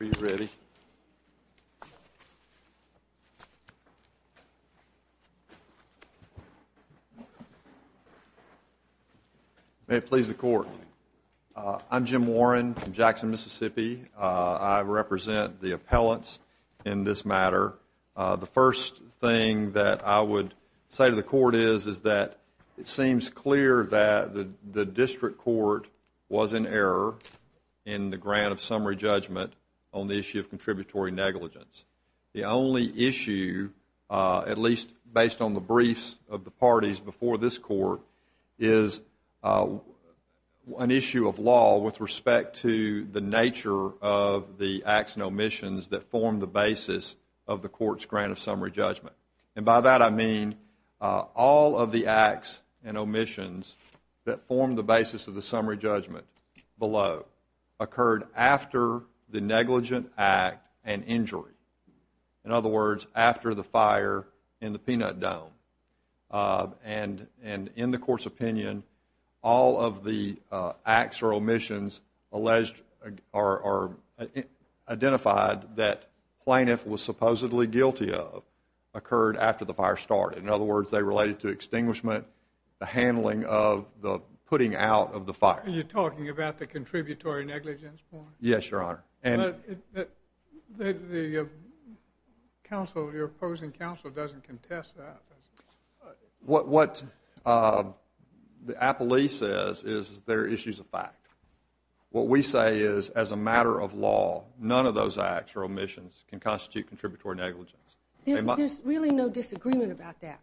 Are you ready? May it please the Court, I'm Jim Warren from Jackson, Mississippi. I represent the appellants in this matter. The first thing that I would say to the Court is that it seems clear that the District Court was in error in the grant of summary judgment on the issue of contributory negligence. The only issue, at least based on the briefs of the parties before this Court, is an issue of law with respect to the nature of the acts and omissions that form the basis of the Court's grant of summary judgment. And by that I mean all of the acts and omissions that form the basis of the summary judgment below occurred after the negligent act and injury. In other words, after the fire in the peanut dome. And in the Court's opinion, all of the acts or omissions identified that plaintiff was supposedly guilty of occurred after the fire started. In other words, they related to extinguishment, the handling of, the putting out of the fire. Are you talking about the contributory negligence point? Yes, Your Honor. Your opposing counsel doesn't contest that. What the appellee says is they're issues of fact. What we say is as a matter of law, none of those acts or omissions can constitute contributory negligence. There's really no disagreement about that.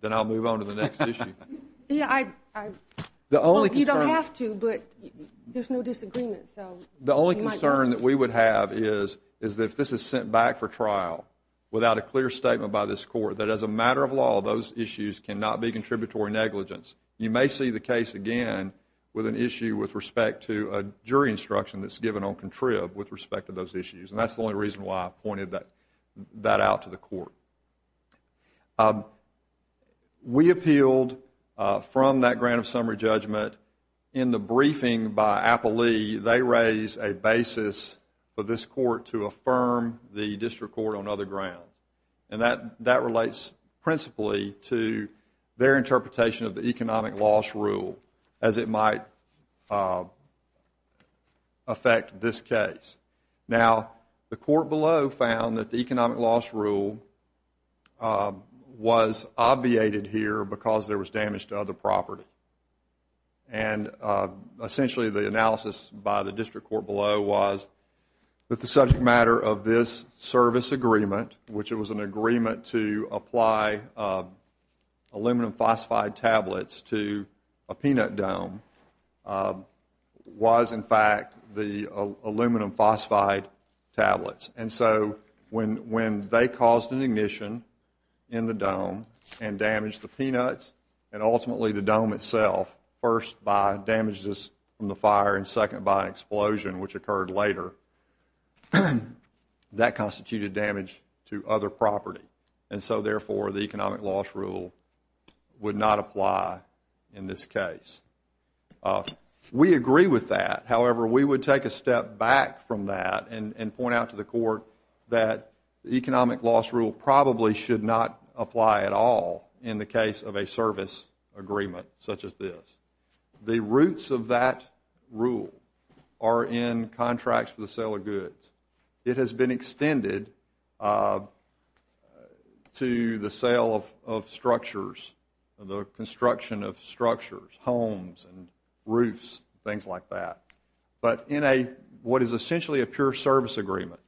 Then I'll move on to the next issue. You don't have to, but there's no disagreement. The only concern that we would have is that if this is sent back for trial without a clear statement by this Court that as a matter of law, those issues cannot be contributory negligence, you may see the case again with an issue with respect to a jury instruction that's given on contrib with respect to those issues. And that's the only reason why I pointed that out to the Court. We appealed from that grant of summary judgment. In the briefing by appellee, they raised a basis for this Court to affirm the district court on other grounds. And that relates principally to their interpretation of the economic loss rule as it might affect this case. Now, the court below found that the economic loss rule was obviated here because there was damage to other property. And essentially, the analysis by the district court below was that the subject matter of this service agreement, which was an agreement to apply aluminum phosphide tablets to a peanut dome, was in fact the aluminum phosphide tablets. And so when they caused an ignition in the dome and damaged the peanuts and ultimately the dome itself, first by damages from the fire and second by an explosion, which occurred later, that constituted damage to other property. And so therefore, the economic loss rule would not apply in this case. We agree with that. However, we would take a step back from that and point out to the Court that the economic loss rule probably should not apply at all in the case of a service agreement such as this. The roots of that rule are in contracts for the sale of goods. It has been extended to the sale of structures, the construction of structures, homes and roofs, things like that. But in what is essentially a pure service agreement,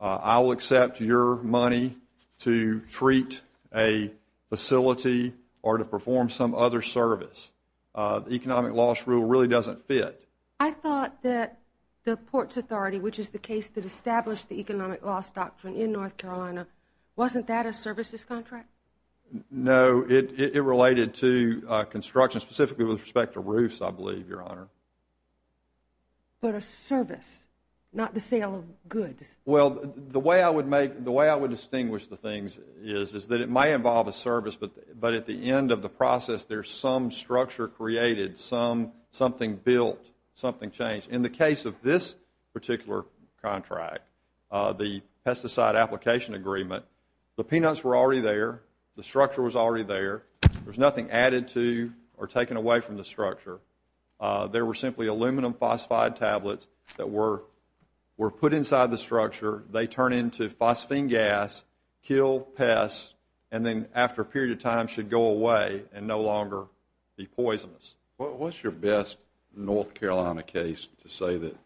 I will accept your money to treat a facility or to perform some other service. The economic loss rule really doesn't fit. I thought that the Ports Authority, which is the case that established the economic loss doctrine in North Carolina, wasn't that a services contract? No, it related to construction, specifically with respect to roofs, I believe, Your Honor. But a service, not the sale of goods. Well, the way I would distinguish the things is that it might involve a service, but at the end of the process there is some structure created, something built, something changed. In the case of this particular contract, the pesticide application agreement, the peanuts were already there. The structure was already there. There was nothing added to or taken away from the structure. There were simply aluminum phosphide tablets that were put inside the structure. They turn into phosphine gas, kill pests, and then after a period of time should go away and no longer be poisonous. What's your best North Carolina case to say that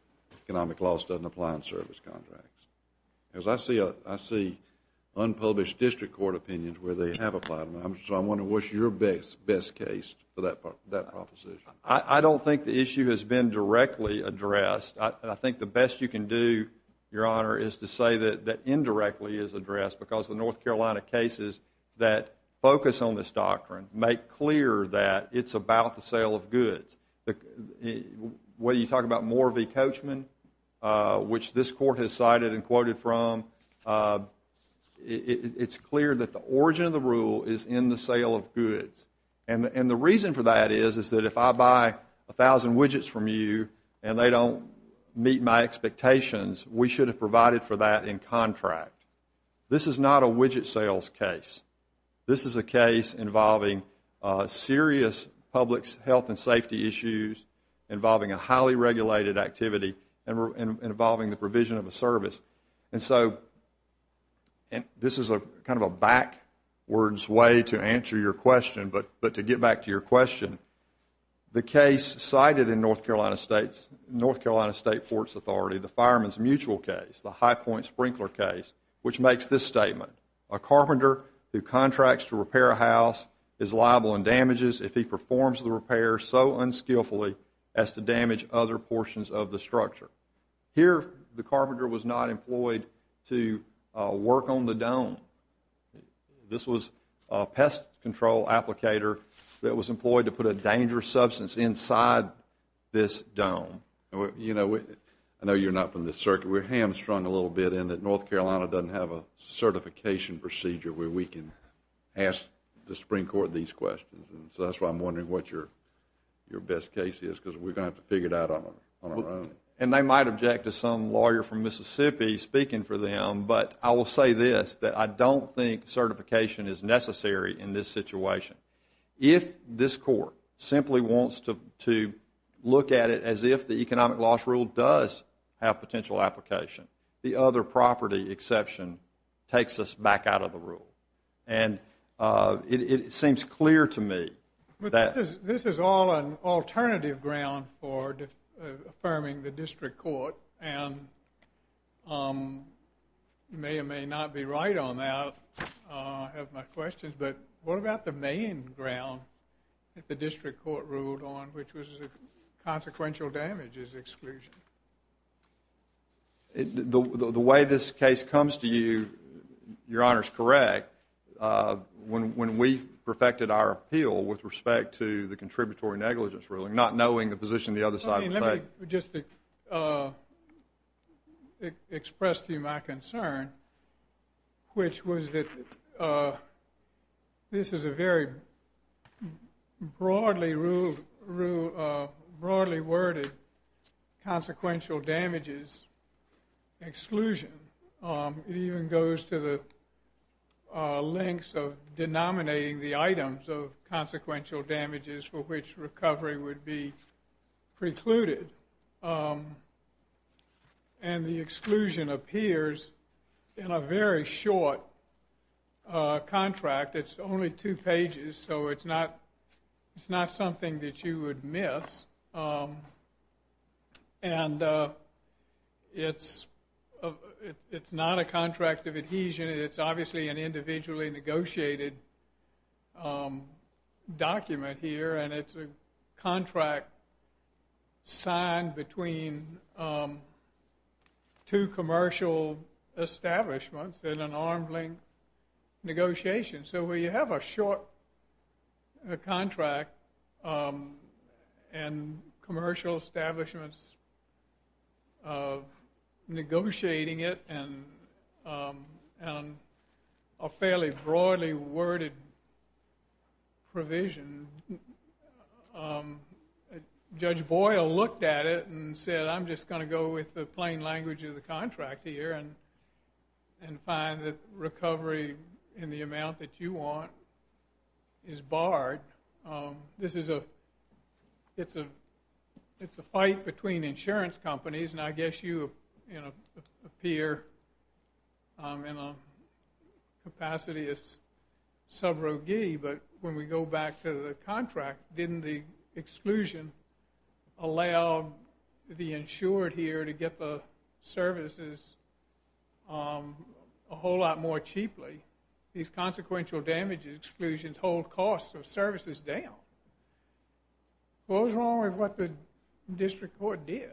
economic loss doesn't apply in service contracts? Because I see unpublished district court opinions where they have applied, so I'm wondering what's your best case for that proposition? I don't think the issue has been directly addressed. I think the best you can do, Your Honor, is to say that indirectly it is addressed because the North Carolina cases that focus on this doctrine make clear that it's about the sale of goods. When you talk about Moore v. Coachman, which this court has cited and quoted from, it's clear that the origin of the rule is in the sale of goods. And the reason for that is that if I buy 1,000 widgets from you and they don't meet my expectations, we should have provided for that in contract. This is not a widget sales case. This is a case involving serious public health and safety issues, involving a highly regulated activity, and involving the provision of a service. And so this is kind of a backwards way to answer your question, but to get back to your question, the case cited in North Carolina State Forts Authority, the fireman's mutual case, the high point sprinkler case, which makes this statement, a carpenter who contracts to repair a house is liable in damages if he performs the repair so unskillfully as to damage other portions of the structure. Here the carpenter was not employed to work on the dome. This was a pest control applicator that was employed to put a dangerous substance inside this dome. I know you're not from this circuit. We're hamstrung a little bit in that North Carolina doesn't have a certification procedure where we can ask the Supreme Court these questions. So that's why I'm wondering what your best case is because we're going to have to figure it out on our own. And they might object to some lawyer from Mississippi speaking for them, but I will say this, that I don't think certification is necessary in this situation. If this court simply wants to look at it as if the economic loss rule does have potential application, the other property exception takes us back out of the rule. And it seems clear to me that... You may or may not be right on that. I have my questions, but what about the main ground that the district court ruled on, which was consequential damages exclusion? The way this case comes to you, Your Honor, is correct. When we perfected our appeal with respect to the contributory negligence ruling, not knowing the position the other side would take. Let me just express to you my concern, which was that this is a very broadly worded consequential damages exclusion. It even goes to the lengths of denominating the items of consequential damages for which recovery would be precluded. And the exclusion appears in a very short contract. It's only two pages, so it's not something that you would miss. And it's not a contract of adhesion. It's obviously an individually negotiated document here, and it's a contract signed between two commercial establishments in an arm's length negotiation. So we have a short contract and commercial establishments negotiating it and a fairly broadly worded provision. Judge Boyle looked at it and said, I'm just going to go with the plain language of the contract here and find that recovery in the amount that you want is barred. This is a fight between insurance companies, and I guess you appear in a capacity as sub-roguee, but when we go back to the contract, didn't the exclusion allow the insured here to get the services a whole lot more cheaply? These consequential damages exclusions hold costs of services down. What was wrong with what the district court did?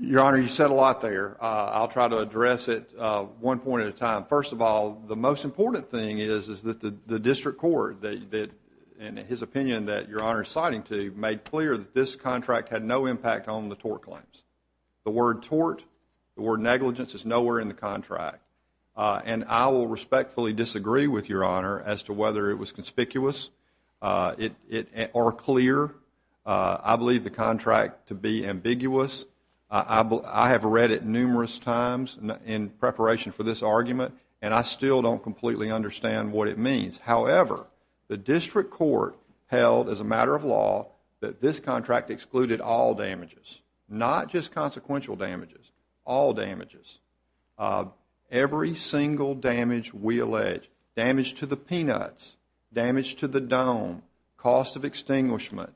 Your Honor, you said a lot there. I'll try to address it one point at a time. First of all, the most important thing is that the district court, in his opinion that Your Honor is citing to, made clear that this contract had no impact on the tort claims. The word tort, the word negligence, is nowhere in the contract. And I will respectfully disagree with Your Honor as to whether it was conspicuous or clear. I believe the contract to be ambiguous. I have read it numerous times in preparation for this argument, and I still don't completely understand what it means. However, the district court held as a matter of law that this contract excluded all damages, not just consequential damages, all damages, every single damage we allege, damage to the peanuts, damage to the dome, cost of extinguishment,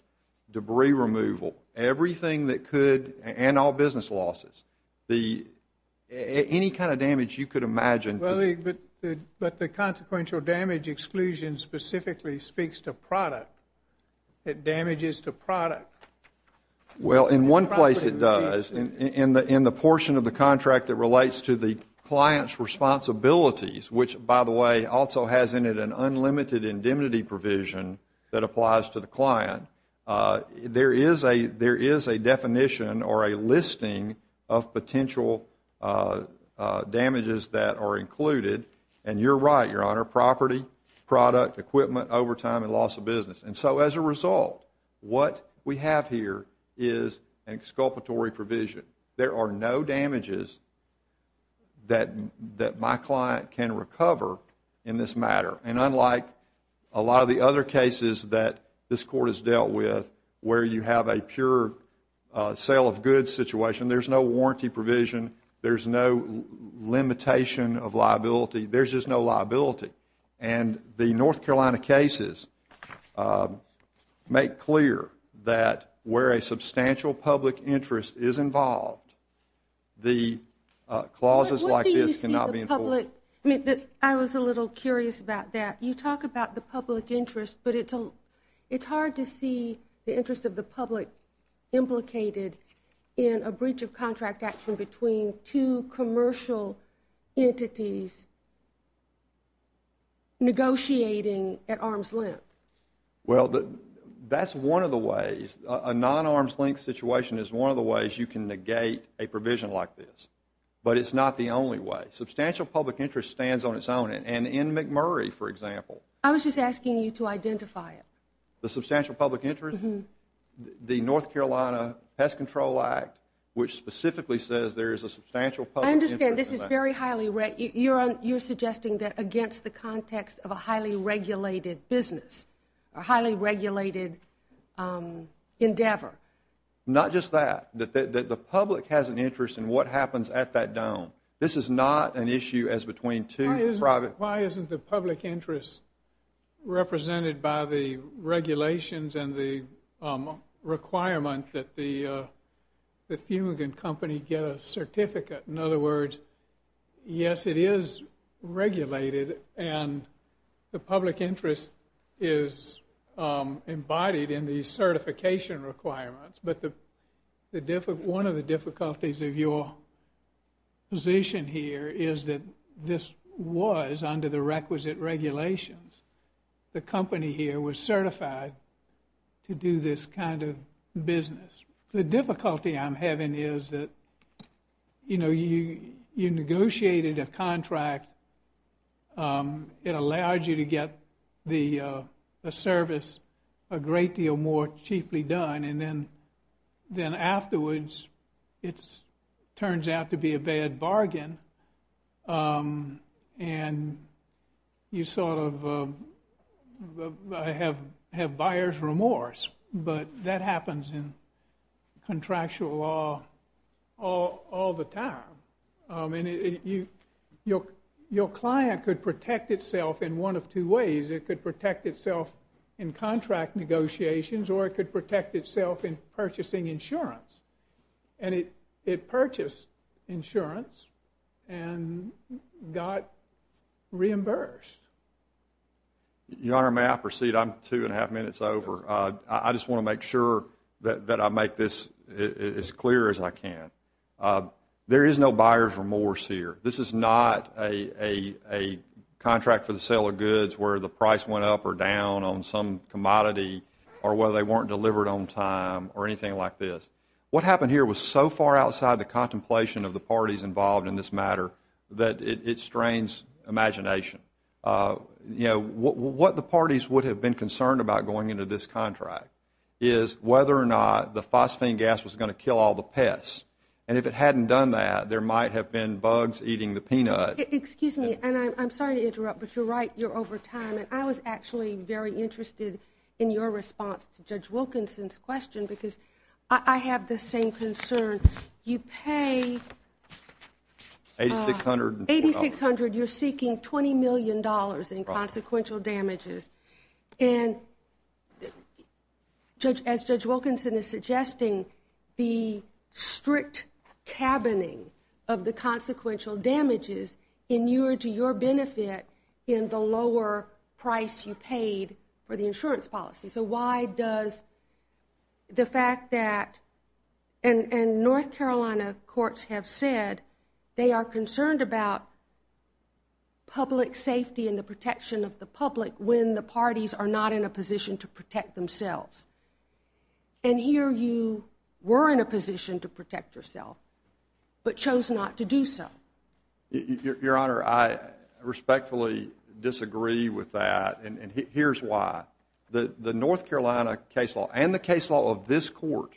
debris removal, everything that could, and all business losses, any kind of damage you could imagine. But the consequential damage exclusion specifically speaks to product. It damages to product. Well, in one place it does. In the portion of the contract that relates to the client's responsibilities, which, by the way, also has in it an unlimited indemnity provision that applies to the client, there is a definition or a listing of potential damages that are included, and you're right, Your Honor, property, product, equipment, overtime, and loss of business. And so as a result, what we have here is an exculpatory provision. There are no damages that my client can recover in this matter. And unlike a lot of the other cases that this Court has dealt with where you have a pure sale of goods situation, there's no warranty provision, there's no limitation of liability, there's just no liability. And the North Carolina cases make clear that where a substantial public interest is involved, the clauses like this cannot be enforced. I was a little curious about that. You talk about the public interest, but it's hard to see the interest of the public implicated in a breach of contract action between two commercial entities negotiating at arm's length. Well, that's one of the ways. A non-arm's length situation is one of the ways you can negate a provision like this, but it's not the only way. Substantial public interest stands on its own, and in McMurray, for example. I was just asking you to identify it. The substantial public interest? The North Carolina Pest Control Act, which specifically says there is a substantial public interest in that. I understand. You're suggesting that against the context of a highly regulated business, a highly regulated endeavor. Not just that. The public has an interest in what happens at that dome. This is not an issue as between two private. Why isn't the public interest represented by the regulations and the requirement that the fumigant company get a certificate? In other words, yes, it is regulated, and the public interest is embodied in the certification requirements. One of the difficulties of your position here is that this was under the requisite regulations. The company here was certified to do this kind of business. The difficulty I'm having is that you negotiated a contract. It allowed you to get the service a great deal more cheaply done, and then afterwards it turns out to be a bad bargain. You sort of have buyer's remorse, but that happens in contractual law all the time. Your client could protect itself in one of two ways. It could protect itself in contract negotiations, or it could protect itself in purchasing insurance. It purchased insurance and got reimbursed. Your Honor, may I proceed? I'm two and a half minutes over. I just want to make sure that I make this as clear as I can. There is no buyer's remorse here. This is not a contract for the sale of goods where the price went up or down on some commodity or where they weren't delivered on time or anything like this. What happened here was so far outside the contemplation of the parties involved in this matter that it strains imagination. What the parties would have been concerned about going into this contract is whether or not the phosphine gas was going to kill all the pests, and if it hadn't done that, there might have been bugs eating the peanut. Excuse me, and I'm sorry to interrupt, but you're right. I was actually very interested in your response to Judge Wilkinson's question because I have the same concern. You pay $8,600. You're seeking $20 million in consequential damages. And as Judge Wilkinson is suggesting, the strict cabining of the consequential damages in your benefit in the lower price you paid for the insurance policy. So why does the fact that, and North Carolina courts have said they are concerned about public safety and the protection of the public when the parties are not in a position to protect themselves. And here you were in a position to protect yourself but chose not to do so. Your Honor, I respectfully disagree with that. And here's why. The North Carolina case law and the case law of this court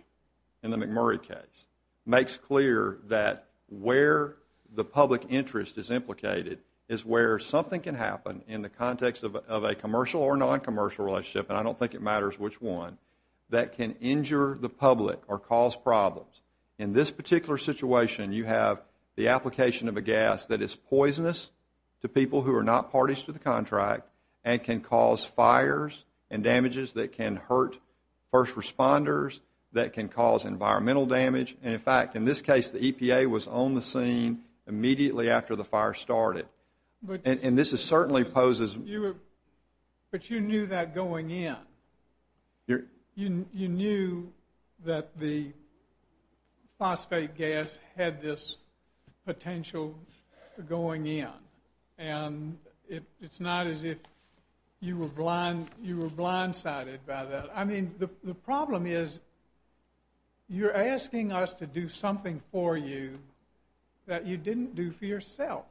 in the McMurray case makes clear that where the public interest is implicated is where something can happen in the context of a commercial or noncommercial relationship, and I don't think it matters which one, that can injure the public or cause problems. In this particular situation, you have the application of a gas that is poisonous to people who are not parties to the contract and can cause fires and damages that can hurt first responders, that can cause environmental damage. And in fact, in this case, the EPA was on the scene immediately after the fire started. And this certainly poses... But you knew that going in. You knew that the phosphate gas had this potential going in, and it's not as if you were blindsided by that. I mean, the problem is you're asking us to do something for you that you didn't do for yourself.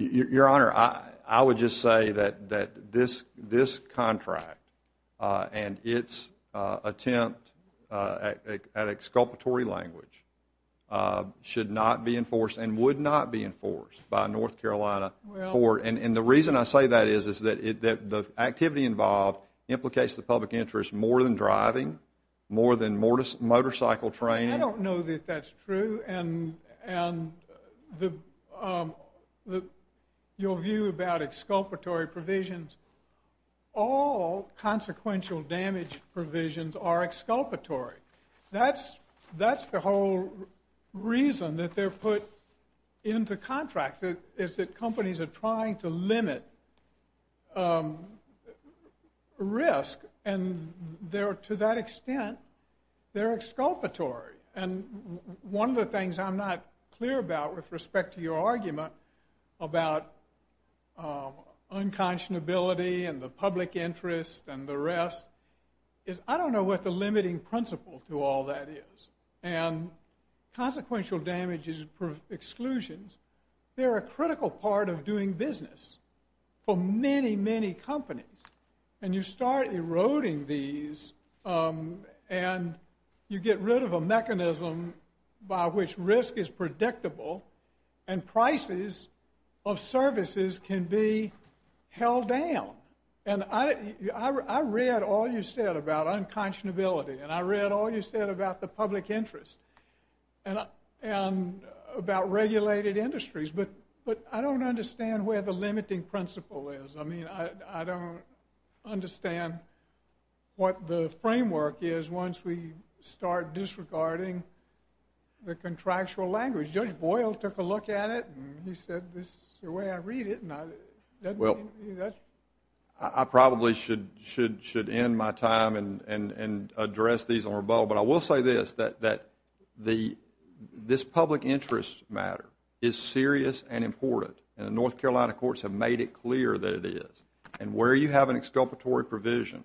Your Honor, I would just say that this contract and its attempt at exculpatory language should not be enforced and would not be enforced by a North Carolina court. And the reason I say that is that the activity involved implicates the public interest more than driving, more than motorcycle training. I don't know that that's true. And your view about exculpatory provisions, all consequential damage provisions are exculpatory. That's the whole reason that they're put into contract, is that companies are trying to limit risk, and to that extent, they're exculpatory. And one of the things I'm not clear about with respect to your argument about unconscionability and the public interest and the rest is I don't know what the limiting principle to all that is. And consequential damage is exclusion. They're a critical part of doing business for many, many companies. And you start eroding these, and you get rid of a mechanism by which risk is predictable and prices of services can be held down. And I read all you said about unconscionability, and I read all you said about the public interest and about regulated industries, but I don't understand where the limiting principle is. I mean, I don't understand what the framework is once we start disregarding the contractual language. Judge Boyle took a look at it, and he said this is the way I read it. I probably should end my time and address these on rebuttal, but I will say this, that this public interest matter is serious and important, and the North Carolina courts have made it clear that it is. And where you have an exculpatory provision,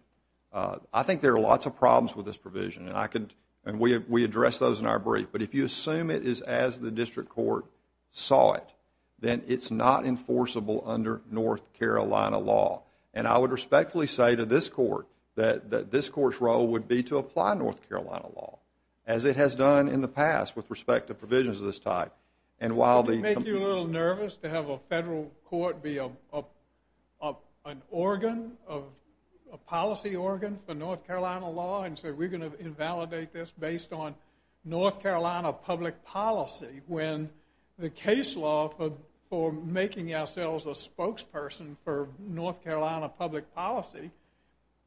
I think there are lots of problems with this provision, and we address those in our brief, but if you assume it is as the district court saw it, then it's not enforceable under North Carolina law. And I would respectfully say to this court that this court's role would be to apply North Carolina law as it has done in the past with respect to provisions of this type. Wouldn't it make you a little nervous to have a federal court be an organ, a policy organ for North Carolina law and say we're going to invalidate this based on North Carolina public policy when the case law for making ourselves a spokesperson for North Carolina public policy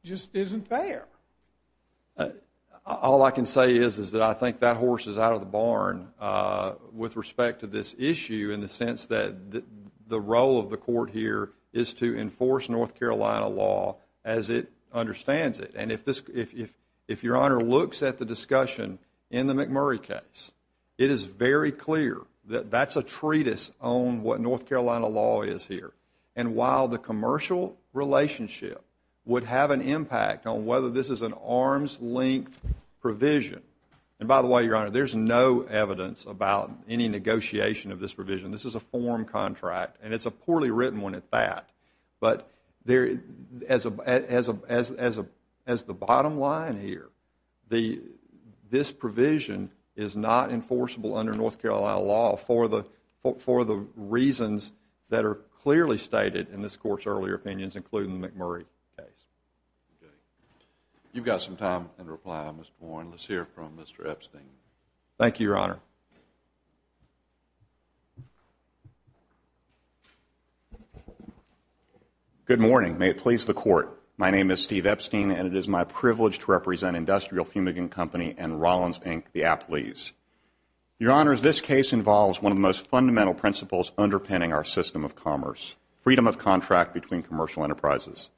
just isn't there? All I can say is that I think that horse is out of the barn with respect to this issue in the sense that the role of the court here is to enforce North Carolina law as it understands it. And if Your Honor looks at the discussion in the McMurray case, it is very clear that that's a treatise on what North Carolina law is here. And while the commercial relationship would have an impact on whether this is an arm's-length provision, and by the way, Your Honor, there's no evidence about any negotiation of this provision. This is a form contract, and it's a poorly written one at that. But as the bottom line here, this provision is not enforceable under North Carolina law for the reasons that are clearly stated in this court's earlier opinions, including the McMurray case. You've got some time in reply, Mr. Warren. Let's hear from Mr. Epstein. Thank you, Your Honor. Good morning. May it please the Court, my name is Steve Epstein, and it is my privilege to represent Industrial Fumigant Company and Rollins, Inc., the Apleys. Your Honors, this case involves one of the most fundamental principles underpinning our system of commerce, freedom of contract between commercial enterprises.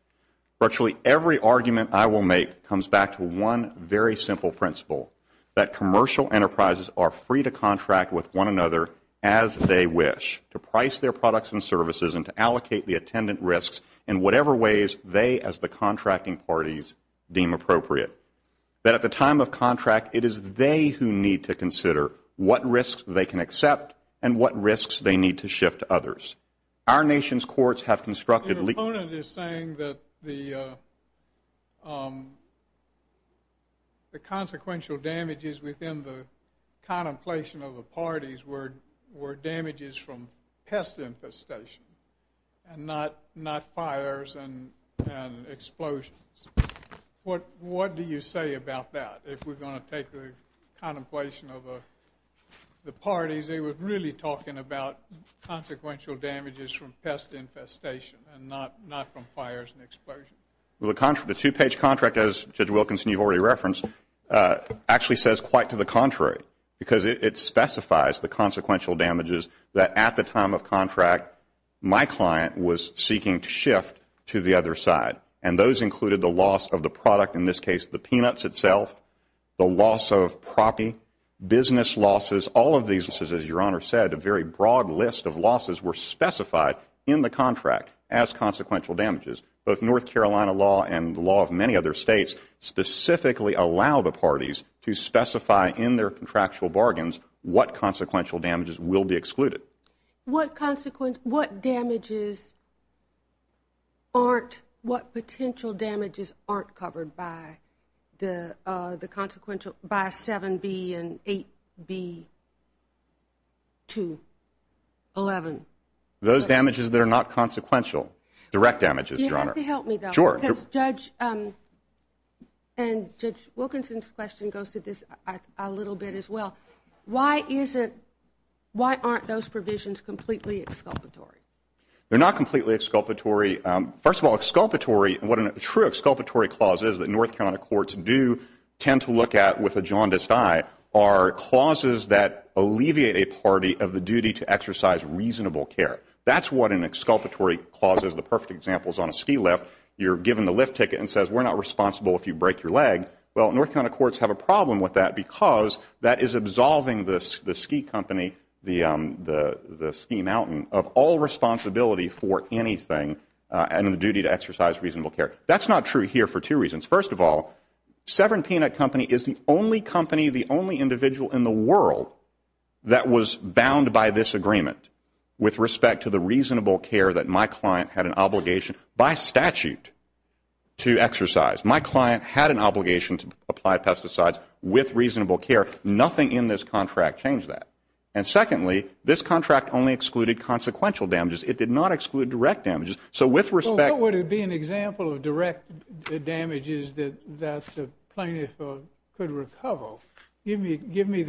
Virtually every argument I will make comes back to one very simple principle, that commercial enterprises are free to contract with one another as they wish, to price their products and services and to allocate the attendant risks in whatever ways they, as the contracting parties, deem appropriate, that at the time of contract, it is they who need to consider what risks they can accept and what risks they need to shift to others. Our nation's courts have constructed legal that the consequential damages within the contemplation of the parties were damages from pest infestation and not fires and explosions. What do you say about that? If we're going to take the contemplation of the parties, they were really talking about consequential damages from pest infestation and not from fires and explosions. The two-page contract, as Judge Wilkinson, you've already referenced, actually says quite to the contrary because it specifies the consequential damages that at the time of contract my client was seeking to shift to the other side, and those included the loss of the product, in this case the peanuts itself, the loss of property, business losses. All of these, as your Honor said, a very broad list of losses were specified in the contract as consequential damages. Both North Carolina law and the law of many other states specifically allow the parties to specify in their contractual bargains What potential damages aren't covered by 7B and 8B-11? Those damages that are not consequential, direct damages, Your Honor. Do you have to help me, though? Sure. Because Judge Wilkinson's question goes to this a little bit as well. Why aren't those provisions completely exculpatory? They're not completely exculpatory. First of all, what a true exculpatory clause is, that North Carolina courts do tend to look at with a jaundiced eye, are clauses that alleviate a party of the duty to exercise reasonable care. That's what an exculpatory clause is. The perfect example is on a ski lift. You're given the lift ticket and it says we're not responsible if you break your leg. Well, North Carolina courts have a problem with that because that is absolving the ski company, the ski mountain, of all responsibility for anything and the duty to exercise reasonable care. That's not true here for two reasons. First of all, Severn Peanut Company is the only company, the only individual in the world that was bound by this agreement with respect to the reasonable care that my client had an obligation by statute to exercise. My client had an obligation to apply pesticides with reasonable care. Nothing in this contract changed that. And secondly, this contract only excluded consequential damages. It did not exclude direct damages. So with respect to Well, what would be an example of direct damages that the plaintiff could recover? Give me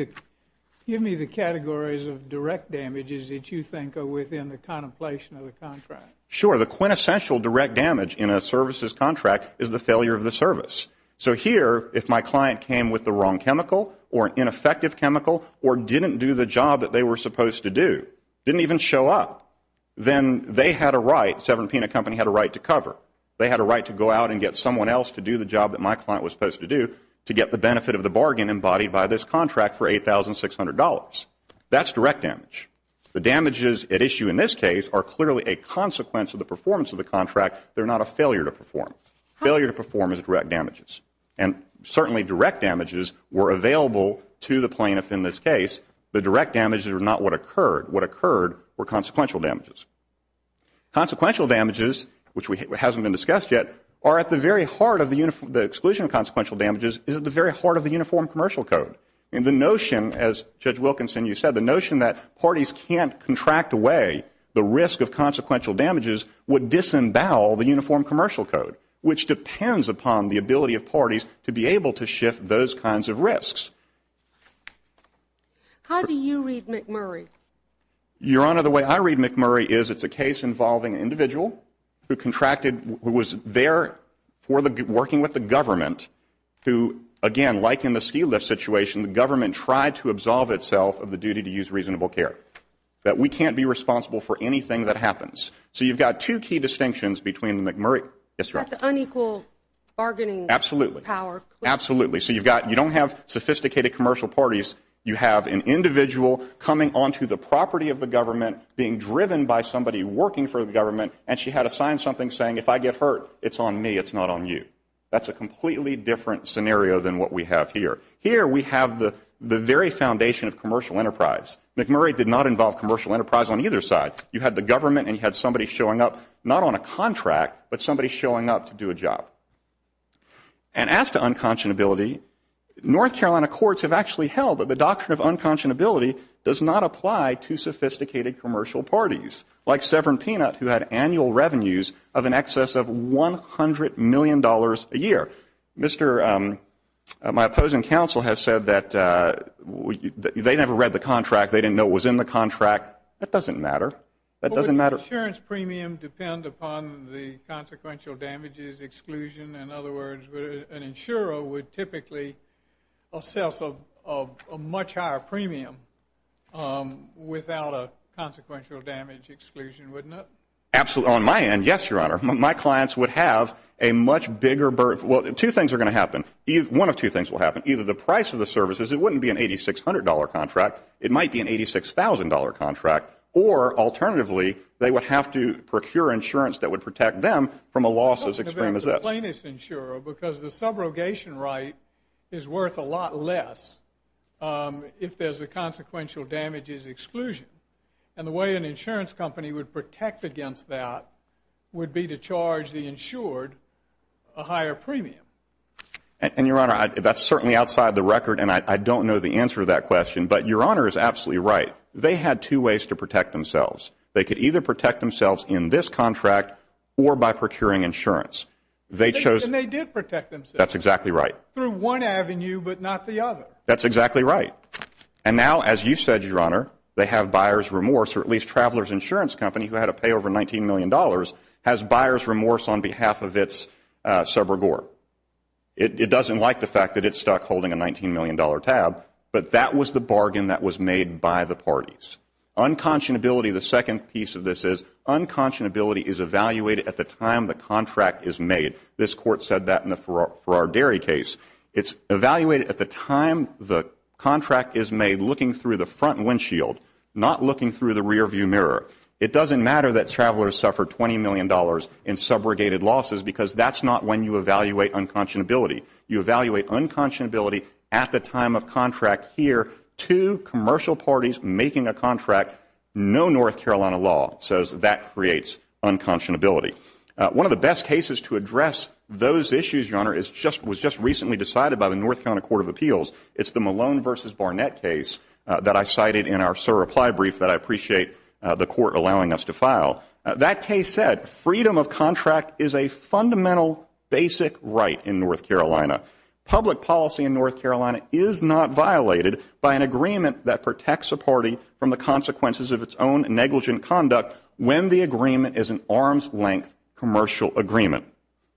the categories of direct damages that you think are within the contemplation of the contract. Sure, the quintessential direct damage in a services contract is the failure of the service. So here, if my client came with the wrong chemical or an ineffective chemical or didn't do the job that they were supposed to do, didn't even show up, then they had a right, Severn Peanut Company had a right to cover. They had a right to go out and get someone else to do the job that my client was supposed to do to get the benefit of the bargain embodied by this contract for $8,600. That's direct damage. The damages at issue in this case are clearly a consequence of the performance of the contract. They're not a failure to perform. Failure to perform is direct damages. And certainly direct damages were available to the plaintiff in this case. The direct damages are not what occurred. What occurred were consequential damages. Consequential damages, which hasn't been discussed yet, are at the very heart of the exclusion of consequential damages, is at the very heart of the Uniform Commercial Code. And the notion, as Judge Wilkinson, you said, the notion that parties can't contract away the risk of consequential damages would disembowel the Uniform Commercial Code, which depends upon the ability of parties to be able to shift those kinds of risks. How do you read McMurray? Your Honor, the way I read McMurray is it's a case involving an individual who contracted, who was there working with the government, who, again, like in the ski lift situation, the government tried to absolve itself of the duty to use reasonable care, that we can't be responsible for anything that happens. So you've got two key distinctions between the McMurray district. That the unequal bargaining power. Absolutely. So you don't have sophisticated commercial parties. You have an individual coming onto the property of the government, being driven by somebody working for the government, and she had to sign something saying, if I get hurt, it's on me, it's not on you. That's a completely different scenario than what we have here. Here we have the very foundation of commercial enterprise. McMurray did not involve commercial enterprise on either side. You had the government and you had somebody showing up, not on a contract, but somebody showing up to do a job. And as to unconscionability, North Carolina courts have actually held that the doctrine of unconscionability does not apply to sophisticated commercial parties, like Severn Peanut, who had annual revenues of in excess of $100 million a year. My opposing counsel has said that they never read the contract. They didn't know what was in the contract. That doesn't matter. That doesn't matter. Would the insurance premium depend upon the consequential damages exclusion? In other words, an insurer would typically assess a much higher premium without a consequential damage exclusion, wouldn't it? On my end, yes, Your Honor. My clients would have a much bigger burden. Well, two things are going to happen. One of two things will happen. Either the price of the services, it wouldn't be an $8,600 contract, it might be an $86,000 contract, or alternatively, they would have to procure insurance that would protect them from a loss as extreme as this. Because the subrogation right is worth a lot less if there's a consequential damages exclusion. And the way an insurance company would protect against that would be to charge the insured a higher premium. And, Your Honor, that's certainly outside the record, and I don't know the answer to that question. But Your Honor is absolutely right. They had two ways to protect themselves. They could either protect themselves in this contract or by procuring insurance. And they did protect themselves. That's exactly right. Through one avenue but not the other. That's exactly right. And now, as you said, Your Honor, they have buyer's remorse, or at least Traveler's Insurance Company, who had to pay over $19 million, has buyer's remorse on behalf of its subrogore. It doesn't like the fact that it's stuck holding a $19 million tab, but that was the bargain that was made by the parties. Unconscionability, the second piece of this is, unconscionability is evaluated at the time the contract is made. This Court said that in the Farrar Dairy case. It's evaluated at the time the contract is made, looking through the front windshield, not looking through the rearview mirror. It doesn't matter that Traveler's suffered $20 million in subrogated losses because that's not when you evaluate unconscionability. You evaluate unconscionability at the time of contract here to commercial parties making a contract, no North Carolina law says that creates unconscionability. One of the best cases to address those issues, Your Honor, was just recently decided by the North Carolina Court of Appeals. It's the Malone v. Barnett case that I cited in our SIR reply brief that I appreciate the Court allowing us to file. That case said freedom of contract is a fundamental basic right in North Carolina. Public policy in North Carolina is not violated by an agreement that protects a party from the consequences of its own negligent conduct when the agreement is an arm's length commercial agreement.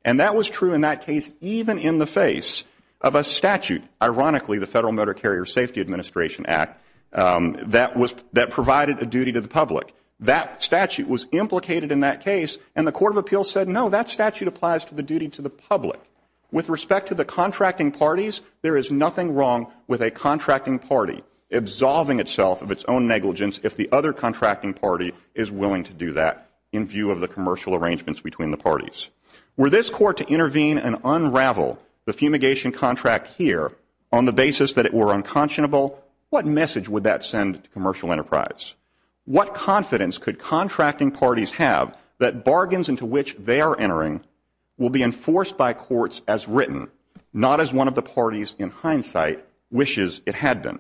And that was true in that case even in the face of a statute, ironically the Federal Motor Carrier Safety Administration Act, that provided a duty to the public. That statute was implicated in that case and the Court of Appeals said, No, that statute applies to the duty to the public. With respect to the contracting parties, there is nothing wrong with a contracting party absolving itself of its own negligence if the other contracting party is willing to do that in view of the commercial arrangements between the parties. Were this Court to intervene and unravel the fumigation contract here on the basis that it were unconscionable, what message would that send to commercial enterprise? What confidence could contracting parties have that bargains into which they are entering will be enforced by courts as written, not as one of the parties in hindsight wishes it had been?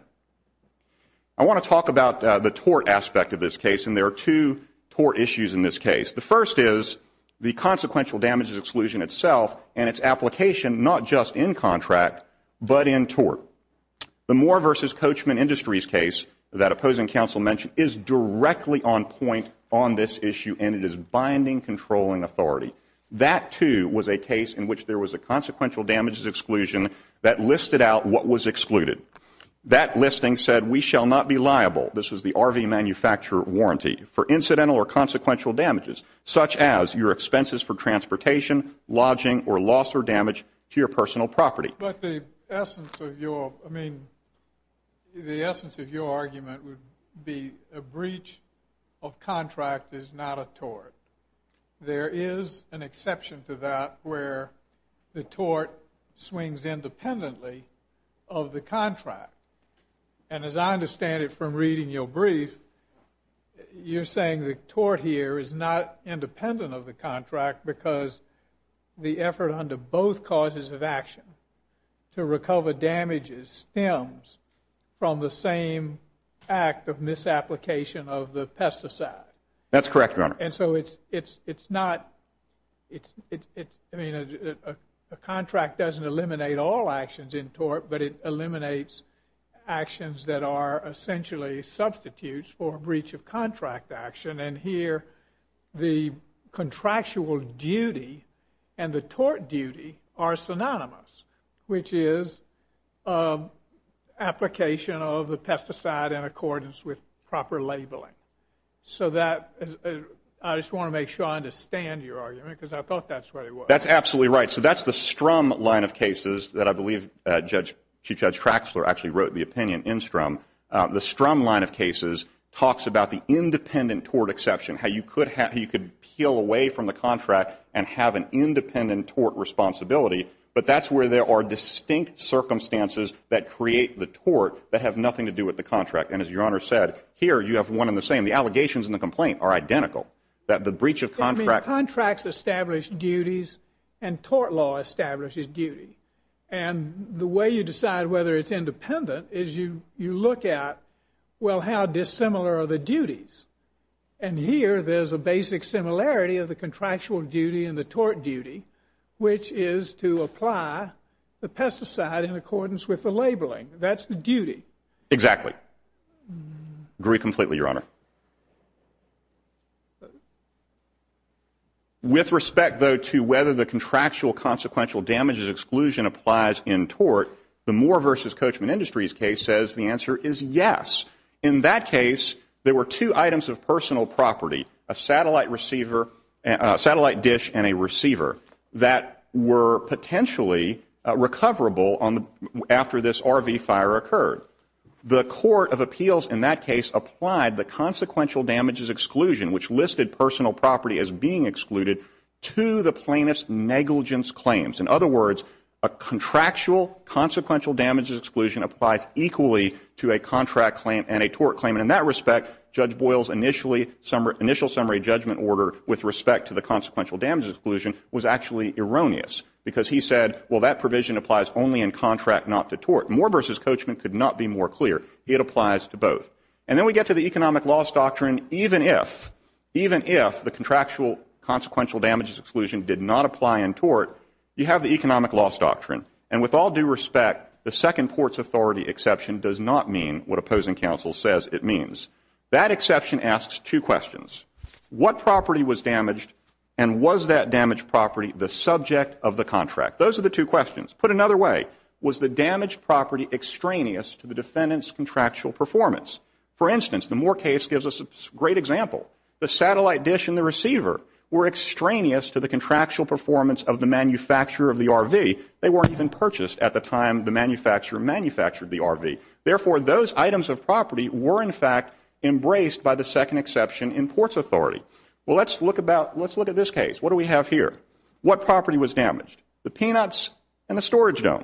I want to talk about the tort aspect of this case, and there are two tort issues in this case. The first is the consequential damages exclusion itself and its application not just in contract but in tort. The Moore v. Coachman Industries case that opposing counsel mentioned is directly on point on this issue and it is binding controlling authority. That, too, was a case in which there was a consequential damages exclusion that listed out what was excluded. That listing said we shall not be liable, this was the RV manufacturer warranty, for incidental or consequential damages such as your expenses for transportation, lodging, or loss or damage to your personal property. But the essence of your argument would be a breach of contract is not a tort. There is an exception to that where the tort swings independently of the contract. And as I understand it from reading your brief, you're saying the tort here is not independent of the contract because the effort under both causes of action to recover damages stems from the same act of misapplication of the pesticide. That's correct, Your Honor. And so it's not, I mean, a contract doesn't eliminate all actions in tort, but it eliminates actions that are essentially substitutes for a breach of contract action. And here the contractual duty and the tort duty are synonymous, which is application of the pesticide in accordance with proper labeling. So I just want to make sure I understand your argument because I thought that's what it was. That's absolutely right. So that's the Strum line of cases that I believe Chief Judge Traxler actually wrote the opinion in Strum. The Strum line of cases talks about the independent tort exception, how you could peel away from the contract and have an independent tort responsibility. But that's where there are distinct circumstances that create the tort that have nothing to do with the contract. And as Your Honor said, here you have one and the same. The allegations in the complaint are identical. The breach of contract. Contracts establish duties and tort law establishes duty. And the way you decide whether it's independent is you look at, well, how dissimilar are the duties? And here there's a basic similarity of the contractual duty and the tort duty, which is to apply the pesticide in accordance with the labeling. That's the duty. Exactly. Agree completely, Your Honor. With respect, though, to whether the contractual consequential damages exclusion applies in tort, the Moore v. Coachman Industries case says the answer is yes. In that case, there were two items of personal property, a satellite dish and a receiver, that were potentially recoverable after this RV fire occurred. The court of appeals in that case applied the consequential damages exclusion, which listed personal property as being excluded, to the plaintiff's negligence claims. In other words, a contractual consequential damages exclusion applies equally to a contract claim and a tort claim. And in that respect, Judge Boyle's initial summary judgment order with respect to the consequential damages exclusion was actually erroneous because he said, well, that provision applies only in contract, not to tort. Moore v. Coachman could not be more clear. It applies to both. And then we get to the economic loss doctrine. Even if, even if the contractual consequential damages exclusion did not apply in tort, you have the economic loss doctrine. And with all due respect, the second port's authority exception does not mean what opposing counsel says it means. That exception asks two questions. What property was damaged and was that damaged property the subject of the contract? Those are the two questions. Put another way, was the damaged property extraneous to the defendant's contractual performance? For instance, the Moore case gives us a great example. The satellite dish and the receiver were extraneous to the contractual performance of the manufacturer of the RV. They weren't even purchased at the time the manufacturer manufactured the RV. Therefore, those items of property were, in fact, embraced by the second exception in port's authority. Well, let's look about, let's look at this case. What do we have here? What property was damaged? The peanuts and the storage dome.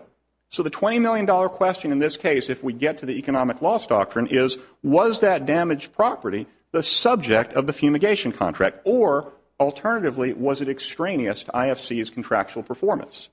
So the $20 million question in this case, if we get to the economic loss doctrine, is was that damaged property the subject of the fumigation contract? Or, alternatively, was it extraneous to IFC's contractual performance?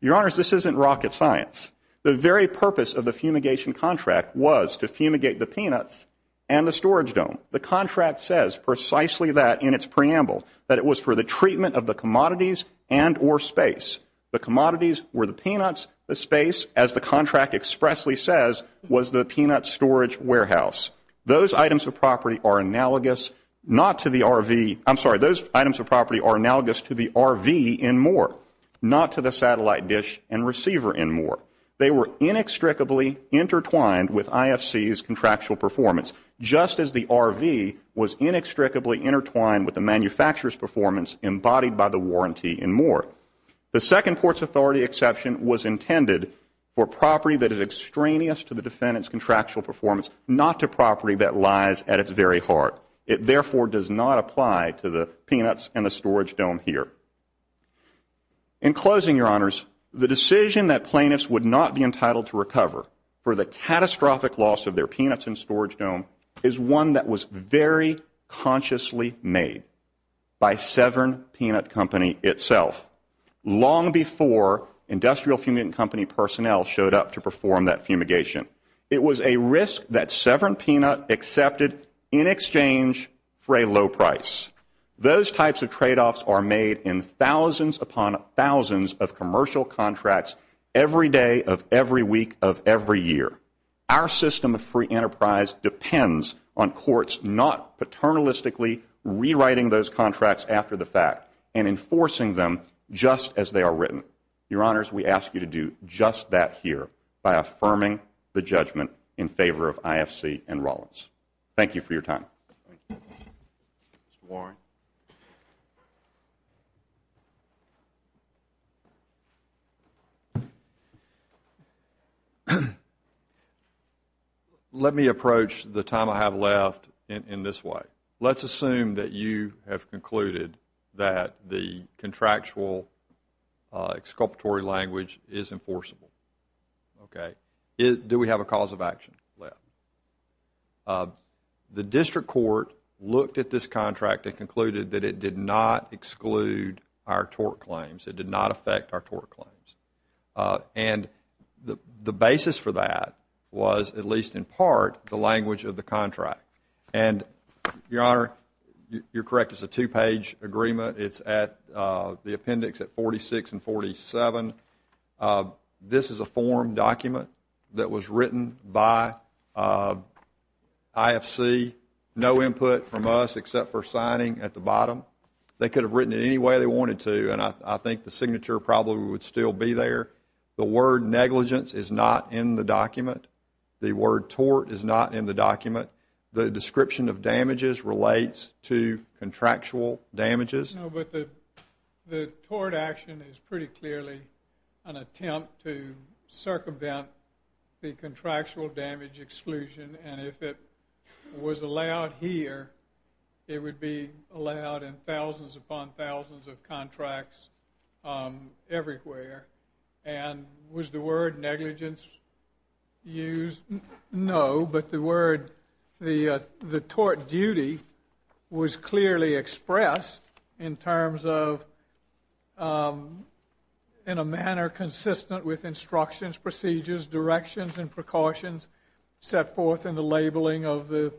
Your Honors, this isn't rocket science. The very purpose of the fumigation contract was to fumigate the peanuts and the storage dome. The contract says precisely that in its preamble, that it was for the treatment of the commodities and or space. The commodities were the peanuts, the space, as the contract expressly says, was the peanut storage warehouse. Those items of property are analogous not to the RV, I'm sorry, those items of property are analogous to the RV in Moore, not to the satellite dish and receiver in Moore. They were inextricably intertwined with IFC's contractual performance, just as the RV was inextricably intertwined with the manufacturer's performance embodied by the warranty in Moore. The Second Ports Authority exception was intended for property that is extraneous to the defendant's contractual performance, not to property that lies at its very heart. It, therefore, does not apply to the peanuts and the storage dome here. In closing, Your Honors, the decision that plaintiffs would not be entitled to recover for the catastrophic loss of their peanuts and storage dome is one that was very consciously made by Severn Peanut Company itself, long before industrial fumigant company personnel showed up to perform that fumigation. It was a risk that Severn Peanut accepted in exchange for a low price. Those types of tradeoffs are made in thousands upon thousands of commercial contracts every day of every week of every year. Our system of free enterprise depends on courts not paternalistically rewriting those contracts after the fact and enforcing them just as they are written. Your Honors, we ask you to do just that here by affirming the judgment in favor of IFC and Rollins. Thank you for your time. Mr. Warren. Let me approach the time I have left in this way. Let's assume that you have concluded that the contractual exculpatory language is enforceable. Do we have a cause of action left? The district court looked at this contract and concluded that it did not exclude our tort claims. It did not affect our tort claims. And the basis for that was, at least in part, the language of the contract. And, Your Honor, you're correct. It's a two-page agreement. It's at the appendix at 46 and 47. This is a form document that was written by IFC. No input from us except for signing at the bottom. They could have written it any way they wanted to, and I think the signature probably would still be there. The word negligence is not in the document. The word tort is not in the document. The description of damages relates to contractual damages. No, but the tort action is pretty clearly an attempt to circumvent the contractual damage exclusion, and if it was allowed here, it would be allowed in thousands upon thousands of contracts everywhere. And was the word negligence used? No, but the word, the tort duty was clearly expressed in terms of in a manner consistent with instructions, procedures, directions, and precautions set forth in the labeling of the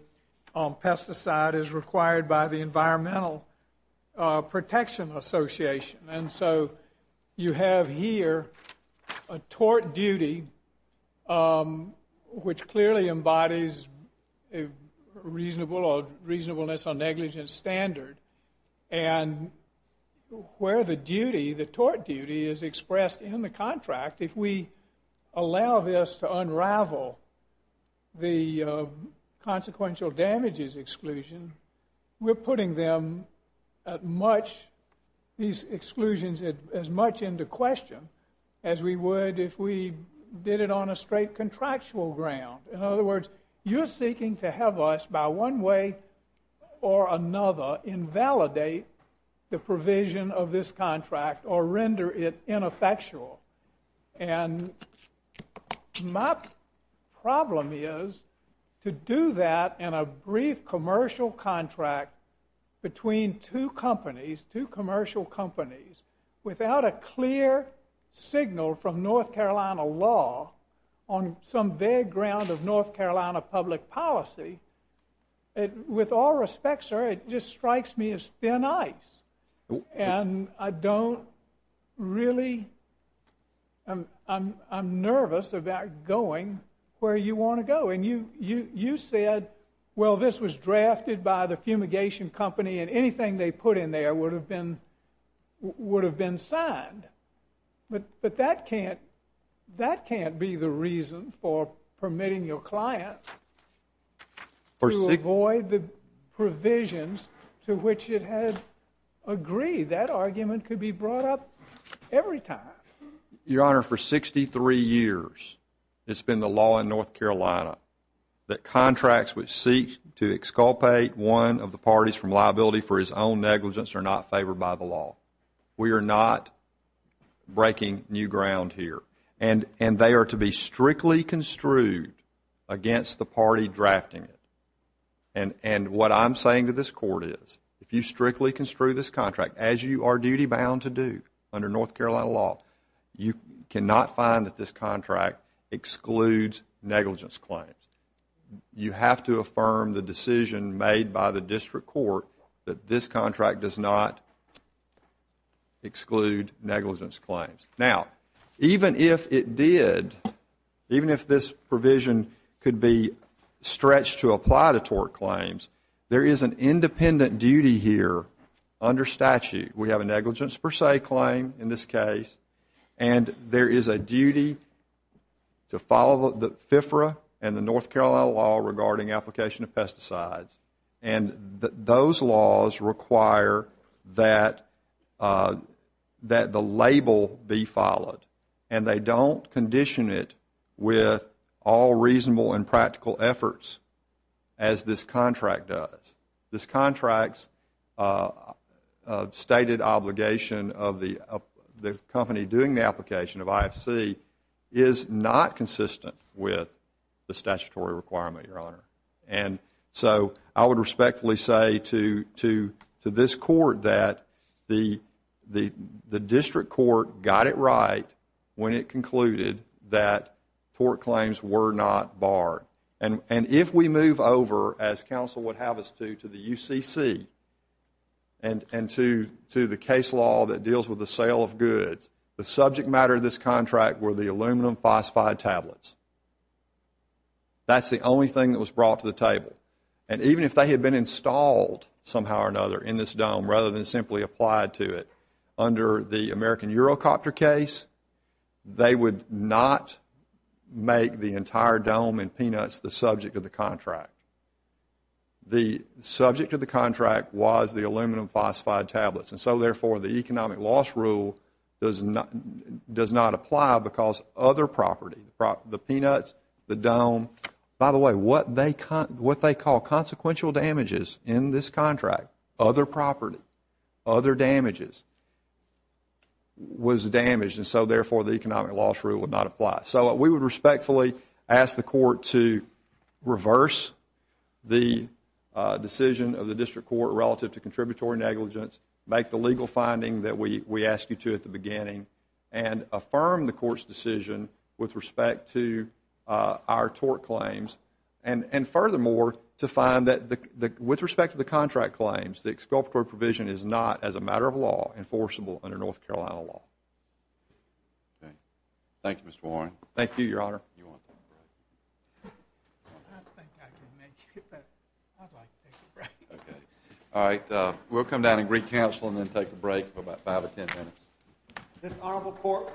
pesticide as required by the Environmental Protection Association. And so you have here a tort duty which clearly embodies a reasonable or reasonableness or negligence standard, and where the duty, the tort duty, is expressed in the contract, if we allow this to unravel the consequential damages exclusion, we're putting them at much, these exclusions as much into question as we would if we did it on a straight contractual ground. In other words, you're seeking to have us, by one way or another, invalidate the provision of this contract or render it ineffectual. And my problem is, to do that in a brief commercial contract between two companies, two commercial companies, without a clear signal from North Carolina law on some vague ground of North Carolina public policy, with all respect, sir, it just strikes me as thin ice. And I don't really, I'm nervous about going where you want to go. And you said, well, this was drafted by the fumigation company and anything they put in there would have been signed. But that can't be the reason for permitting your client to avoid the provisions to which it had agreed. That argument could be brought up every time. Your Honor, for 63 years, it's been the law in North Carolina that contracts which seek to exculpate one of the parties from liability for his own negligence are not favored by the law. We are not breaking new ground here. And they are to be strictly construed against the party drafting it. And what I'm saying to this Court is, if you strictly construe this contract, as you are duty-bound to do under North Carolina law, you cannot find that this contract excludes negligence claims. You have to affirm the decision made by the District Court that this contract does not exclude negligence claims. Now, even if it did, even if this provision could be stretched to apply to tort claims, there is an independent duty here under statute. We have a negligence per se claim in this case. And there is a duty to follow the FFRA and the North Carolina law regarding application of pesticides. And those laws require that the label be followed. And they don't condition it with all reasonable and practical efforts as this contract does. This contract's stated obligation of the company doing the application of IFC is not consistent with the statutory requirement, Your Honor. And so I would respectfully say to this Court that the District Court got it right when it concluded that tort claims were not barred. And if we move over, as counsel would have us do, to the UCC and to the case law that deals with the sale of goods, the subject matter of this contract were the aluminum phosphide tablets. That's the only thing that was brought to the table. And even if they had been installed somehow or another in this dome rather than simply applied to it, under the American Eurocopter case, they would not make the entire dome and peanuts the subject of the contract. The subject of the contract was the aluminum phosphide tablets. And so, therefore, the economic loss rule does not apply because other property, the peanuts, the dome, by the way, what they call consequential damages in this contract, other property, other damages, was damaged. And so, therefore, the economic loss rule would not apply. So we would respectfully ask the Court to reverse the decision of the District Court relative to contributory negligence, make the legal finding that we asked you to at the beginning, and affirm the Court's decision with respect to our tort claims. And furthermore, to find that with respect to the contract claims, the exculpatory provision is not, as a matter of law, enforceable under North Carolina law. Thank you, Mr. Warren. Thank you, Your Honor. I don't think I can make it, but I'd like to take a break. Okay. All right. We'll come down and re-counsel and then take a break for about five or ten minutes. This Honorable Court will take a brief recess.